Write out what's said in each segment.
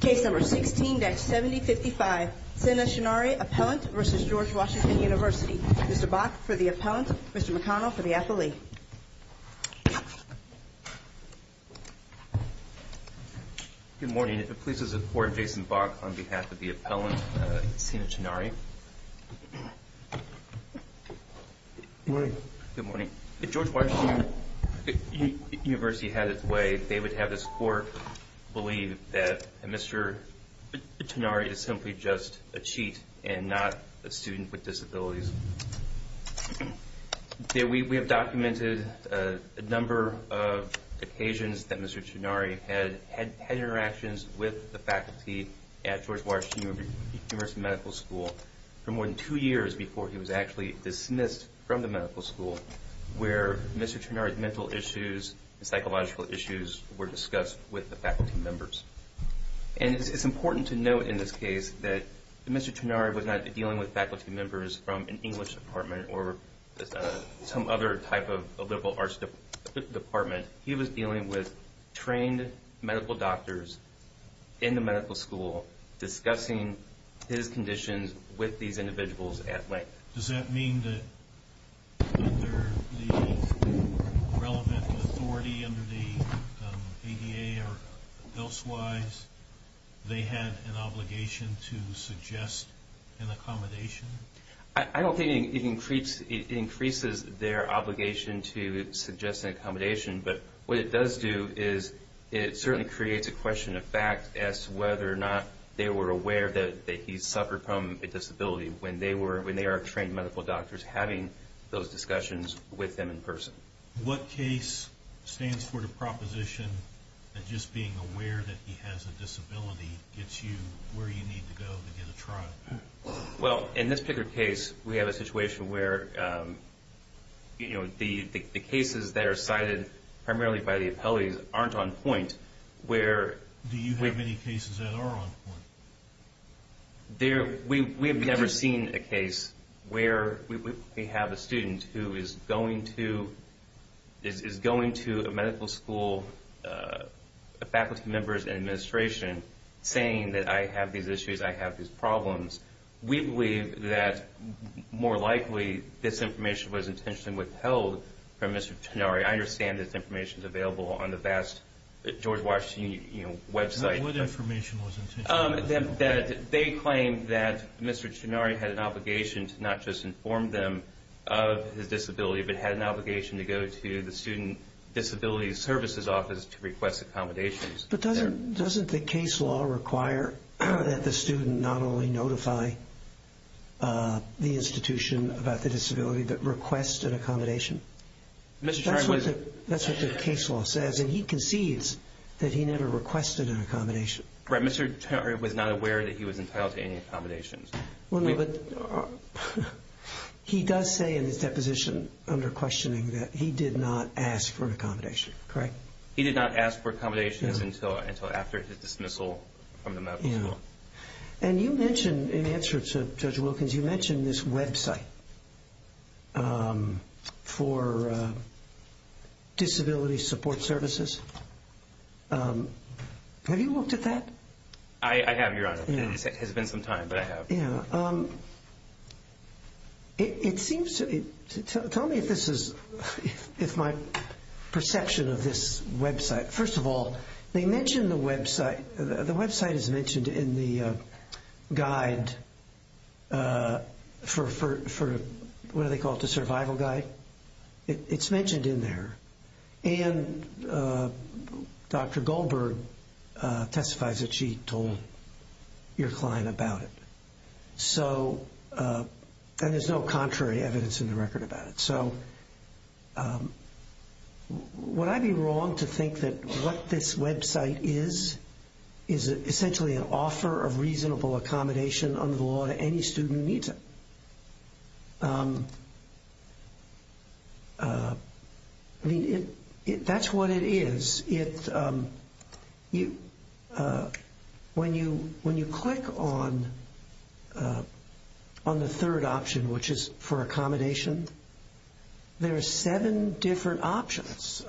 Case number 16-7055. Sina Chenari, Appellant v. George Washington University. Mr. Bach for the Appellant. Mr. McConnell for the Affile. Good morning. Please support Jason Bach on behalf of the Appellant, Sina Chenari. Good morning. If George Washington University had its way, they would have this court believe that Mr. Chenari is simply just a cheat and not a student with disabilities. We have documented a number of occasions that Mr. Chenari had had interactions with the faculty at George Washington University Medical School for more than two years before he was actually dismissed from the medical school where Mr. Chenari's mental issues and psychological issues were discussed with the faculty members. And it's important to note in this case that Mr. Chenari was not dealing with faculty members from an English department or some other type of a liberal arts department. He was dealing with trained medical doctors in the medical school discussing his conditions with these medical doctors. I don't think it increases their obligation to suggest an accommodation, but what it does do is it certainly creates a question of fact as to whether or not they were aware that he suffered from a disability when they are trained medical doctors having those discussions with them in person. What case stands for the proposition that just being aware that he has a disability gets you where you need to go to get a trial? Well, in this Pickard case, we have a situation where the cases that are cited primarily by the appellees aren't on point. Do you have any cases that are on point? We have never seen a case where we have a student who is going to a medical school, a faculty member's administration saying that I have these issues, I have these problems. We believe that more likely this information was intentionally withheld from Mr. Chenari. I understand this information is available on the vast George Washington website. They claim that Mr. Chenari had an obligation to not just inform them of his disability, but had an obligation to go to the student disability services office to request accommodations. But doesn't the case law require that the student not only notify the institution about the disability but request an accommodation? That's what the case law says, and he concedes that he never requested an accommodation. Right, Mr. Chenari was not aware that he was entitled to any accommodations. He does say in his deposition under questioning that he did not ask for an accommodation, correct? He did not ask for accommodations until after his dismissal from the medical school. And you mentioned, in answer to Judge Wilkins, you mentioned this website for disability support services. Have you looked at that? I have, Your Honor. It has been some time, but I have. It seems to me, tell me if this is, if my perception of this website. First of all, they mention the website, the website is mentioned in the guide for, what do they call it, the survival guide? It's mentioned in there, and Dr. Goldberg testifies that she told your client about it. So, and there's no contrary evidence in the record about it. So, would I be wrong to think that what this website is, is essentially an offer of reasonable accommodation under the law to any student who needs it? I mean, that's what it is. When you click on the third option, which is for accommodation, there are seven different options,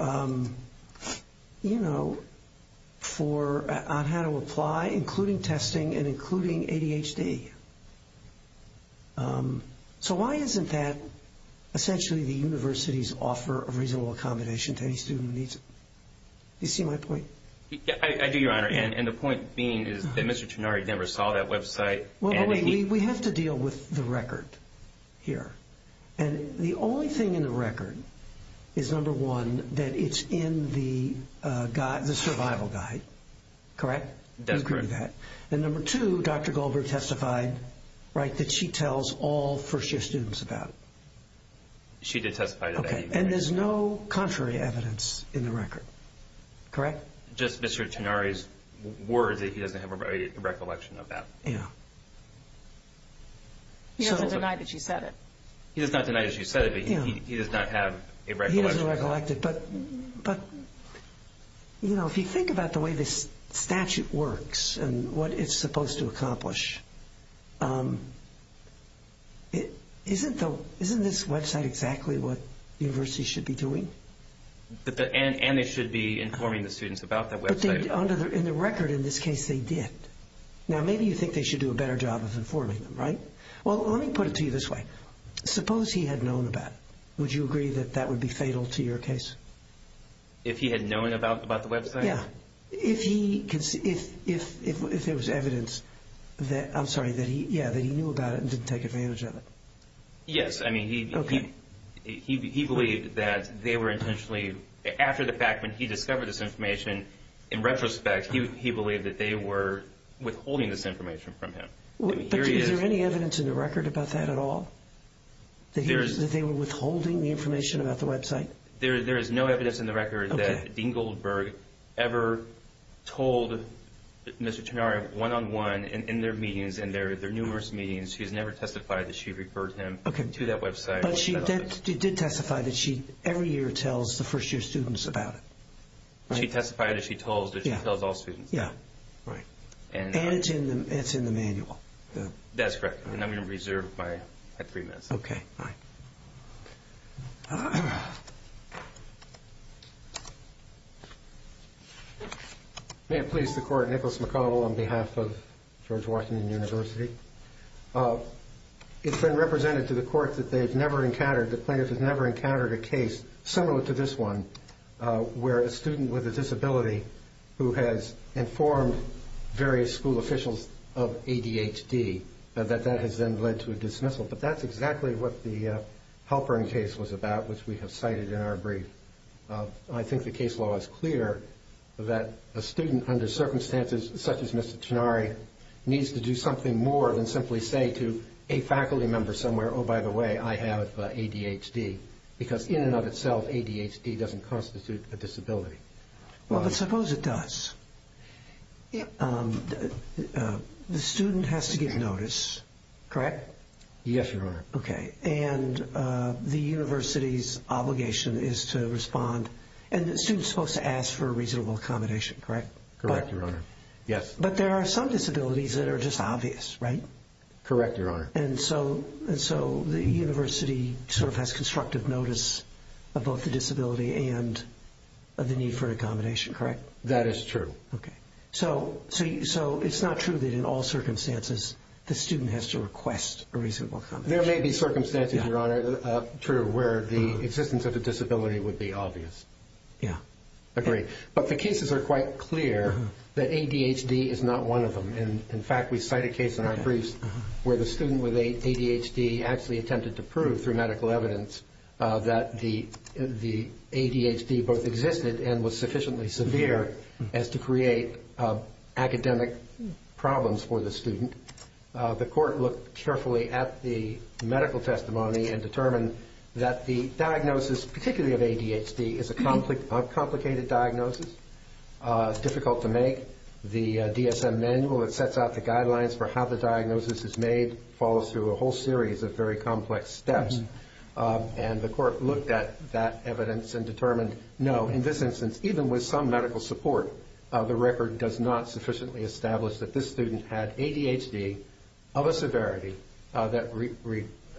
you know, on how to apply, including testing and including ADHD. So, why isn't that essentially the university's offer of reasonable accommodation to any student who needs it? Do you see my point? I do, Your Honor, and the point being is that Mr. Trenari never saw that website. Well, wait, we have to deal with the record here. And the only thing in the record is, number one, that it's in the survival guide, correct? That's correct. And number two, Dr. Goldberg testified, right, that she tells all first-year students about it. She did testify to that. Okay, and there's no contrary evidence in the record, correct? Just Mr. Trenari's words that he doesn't have a recollection of that. Yeah. He doesn't deny that she said it. He does not deny that she said it, but he does not have a recollection. He doesn't recollect it, but, you know, if you think about the way this statute works and what it's supposed to accomplish, isn't this website exactly what universities should be doing? And they should be informing the students about that website. In the record, in this case, they did. Now, maybe you think they should do a better job of informing them, right? Well, let me put it to you this way. Suppose he had known about it. Would you agree that that would be fatal to your case? If he had known about the website? Yeah, if there was evidence that he knew about it and didn't take advantage of it. Yes, I mean, he believed that they were intentionally, after the fact, when he discovered this information, in retrospect, he believed that they were withholding this information from him. But is there any evidence in the record about that at all? That they were withholding the information about the website? There is no evidence in the record that Dean Goldberg ever told Mr. Tonario one-on-one in their meetings, in their numerous meetings, she has never testified that she referred him to that website. But she did testify that she every year tells the first-year students about it. She testified that she tells, but she tells all students. And it's in the manual? That's correct, and I'm going to reserve my three minutes. May it please the Court, Nicholas McColl on behalf of George Washington University. It's been represented to the Court that the plaintiff has never encountered a case similar to this one where a student with a disability who has informed various school officials of ADHD, that that has then led to a dismissal. But that's exactly what the Halperin case was about, which we have cited in our brief. I think the case law is clear that a student under circumstances such as Mr. Tonario needs to do something more than simply say to a faculty member somewhere, oh, by the way, I have ADHD, because in and of itself ADHD doesn't constitute a disability. Well, suppose it does. The student has to give notice, correct? Yes, Your Honor. Okay, and the university's obligation is to respond, and the student's supposed to ask for a reasonable accommodation, correct? Correct, Your Honor, yes. But there are some disabilities that are just obvious, right? Correct, Your Honor. And so the university sort of has constructive notice of both the disability and the need for accommodation, correct? That is true. Okay. So it's not true that in all circumstances the student has to request a reasonable accommodation. There may be circumstances, Your Honor, true, where the existence of a disability would be obvious. Yeah. Agreed. But the cases are quite clear that ADHD is not one of them. In fact, we cite a case in our briefs where the student with ADHD actually attempted to prove through medical evidence that the ADHD both existed and was sufficiently severe as to create academic problems for the student. The court looked carefully at the medical testimony and determined that the diagnosis, particularly of ADHD, is a complicated diagnosis, difficult to make. The DSM manual that sets out the guidelines for how the diagnosis is made follows through a whole series of very complex steps. And the court looked at that evidence and determined, no, in this instance, even with some medical support, the record does not sufficiently establish that this student had ADHD of a severity that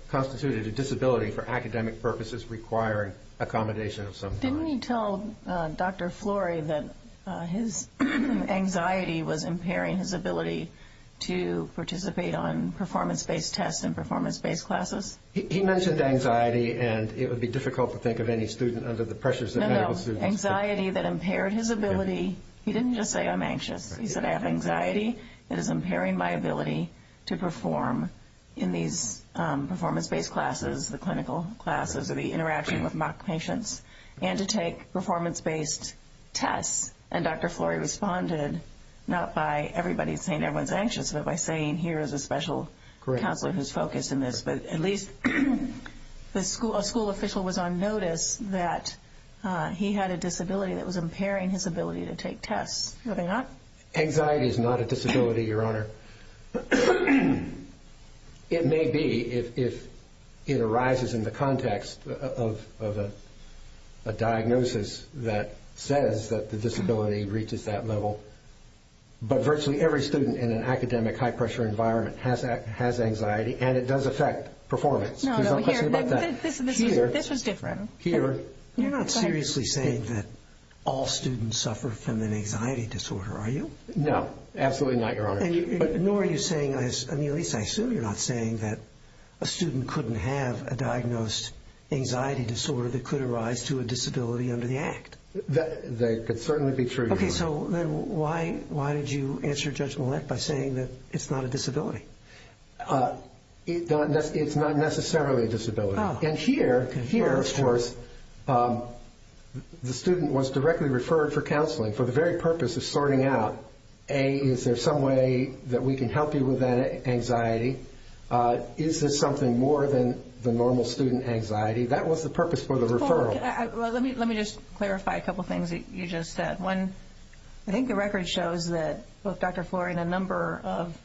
constituted a disability for academic purposes requiring accommodation of some kind. Can you tell Dr. Flory that his anxiety was impairing his ability to participate on performance-based tests and performance-based classes? He mentioned anxiety, and it would be difficult to think of any student under the pressures of medical students. No, no, anxiety that impaired his ability. He didn't just say, I'm anxious. He said, I have anxiety that is impairing my ability to perform in these performance-based classes, the clinical classes or the interaction with mock patients, and to take performance-based tests. And Dr. Flory responded not by everybody saying everyone's anxious, but by saying here is a special counselor who's focused on this. But at least a school official was on notice that he had a disability that was impairing his ability to take tests. Were they not? Anxiety is not a disability, Your Honor. It may be if it arises in the context of a diagnosis that says that the disability reaches that level, but virtually every student in an academic high-pressure environment has anxiety, and it does affect performance. There's no question about that. No, no, here. This was different. Here. You're not seriously saying that all students suffer from an anxiety disorder, are you? No, absolutely not, Your Honor. Nor are you saying, at least I assume you're not saying, that a student couldn't have a diagnosed anxiety disorder that could arise to a disability under the Act. That could certainly be true, Your Honor. Okay, so then why did you answer Judge Millett by saying that it's not a disability? It's not necessarily a disability. And here, of course, the student was directly referred for counseling for the very purpose of sorting out, A, is there some way that we can help you with that anxiety? Is this something more than the normal student anxiety? That was the purpose for the referral. Well, let me just clarify a couple things that you just said. One, I think the record shows that both Dr. Flory and a number of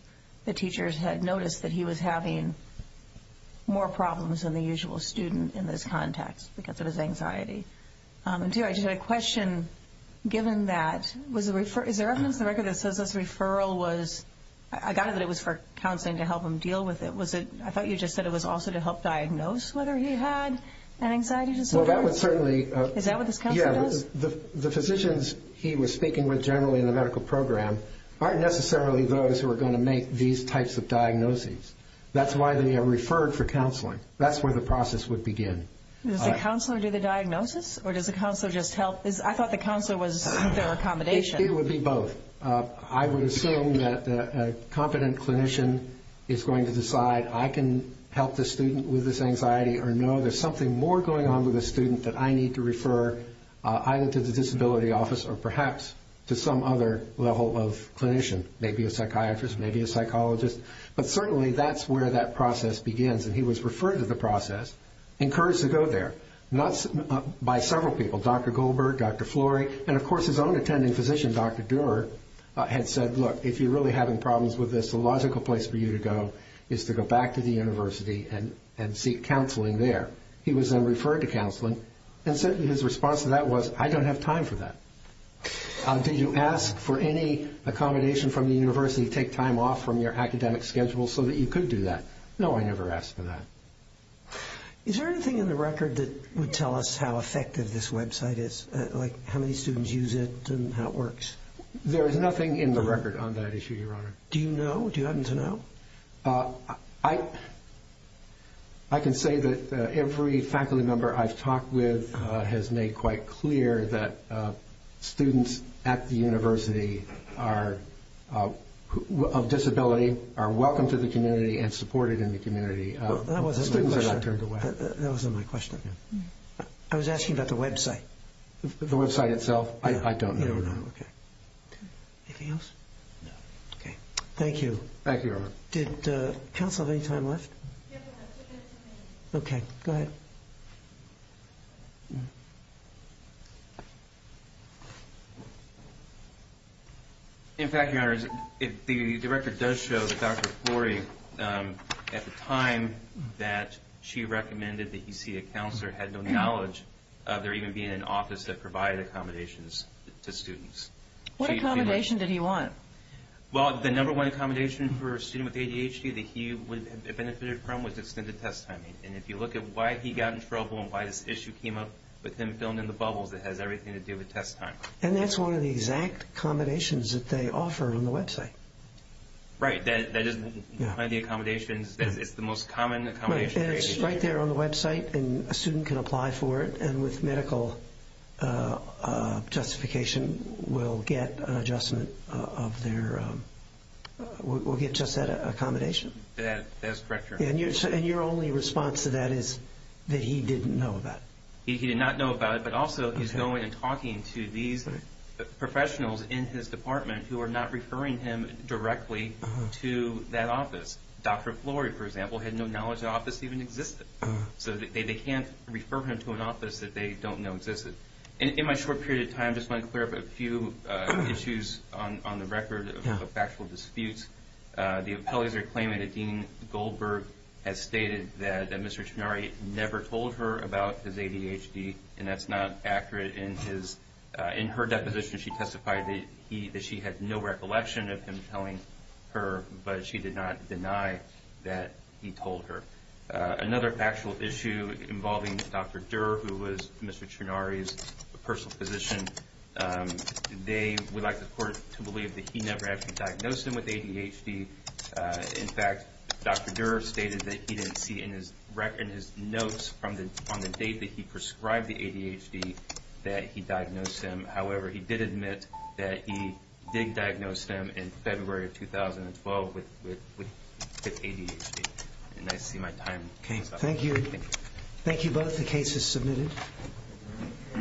the teachers had noticed that he was having more problems than the usual student in this context because of his anxiety. And two, I just had a question, given that, is there evidence in the record that says this referral was, I got it that it was for counseling to help him deal with it. I thought you just said it was also to help diagnose whether he had an anxiety disorder? Well, that would certainly... Is that what this counselor does? Yeah, the physicians he was speaking with generally in the medical program aren't necessarily those who are going to make these types of diagnoses. That's why they are referred for counseling. That's where the process would begin. Does the counselor do the diagnosis, or does the counselor just help? I thought the counselor was their accommodation. It would be both. I would assume that a competent clinician is going to decide, I can help the student with this anxiety or know there's something more going on with the student that I need to refer, either to the disability office or perhaps to some other level of clinician, maybe a psychiatrist, maybe a psychologist. But certainly that's where that process begins, and he was referred to the process, encouraged to go there by several people, Dr. Goldberg, Dr. Flory, and of course his own attending physician, Dr. Doerr, had said, look, if you're really having problems with this, the logical place for you to go is to go back to the university and seek counseling there. He was then referred to counseling, and certainly his response to that was, I don't have time for that. Did you ask for any accommodation from the university to take time off from your academic schedule so that you could do that? No, I never asked for that. Is there anything in the record that would tell us how effective this website is, like how many students use it and how it works? There is nothing in the record on that issue, Your Honor. Do you know? Do you happen to know? I can say that every faculty member I've talked with has made quite clear that students at the university of disability are welcome to the community and supported in the community. Well, that wasn't my question. Students are not turned away. That wasn't my question. I was asking about the website. The website itself? I don't know. You don't know. Okay. Anything else? No. Okay. Thank you. Thank you, Your Honor. Did counsel have any time left? Okay. Go ahead. In fact, Your Honor, the record does show that Dr. Flory, at the time that she recommended that he see a counselor, had no knowledge of there even being an office that provided accommodations to students. What accommodation did he want? Well, the number one accommodation for a student with ADHD that he would have benefited from was extended test timing. And if you look at why he got in trouble and why this issue came up, with him filling in the bubbles, it has everything to do with test time. And that's one of the exact accommodations that they offer on the website. Right. That is one of the accommodations. It's the most common accommodation for ADHD. It's right there on the website, and a student can apply for it, and with medical justification will get an adjustment of their – will get just that accommodation. That's correct, Your Honor. And your only response to that is that he didn't know about it. He did not know about it, but also he's going and talking to these professionals in his department who are not referring him directly to that office. Dr. Flory, for example, had no knowledge the office even existed. So they can't refer him to an office that they don't know existed. In my short period of time, I just want to clear up a few issues on the record of factual disputes. The appellees are claiming that Dean Goldberg has stated that Mr. Trinari never told her about his ADHD, and that's not accurate. In her deposition, she testified that she had no recollection of him telling her, but she did not deny that he told her. Another factual issue involving Dr. Durer, who was Mr. Trinari's personal physician, they would like the court to believe that he never actually diagnosed him with ADHD. In fact, Dr. Durer stated that he didn't see in his notes on the date that he prescribed the ADHD that he diagnosed him. However, he did admit that he did diagnose him in February of 2012 with ADHD. And I see my time came. Thank you both. The case is submitted.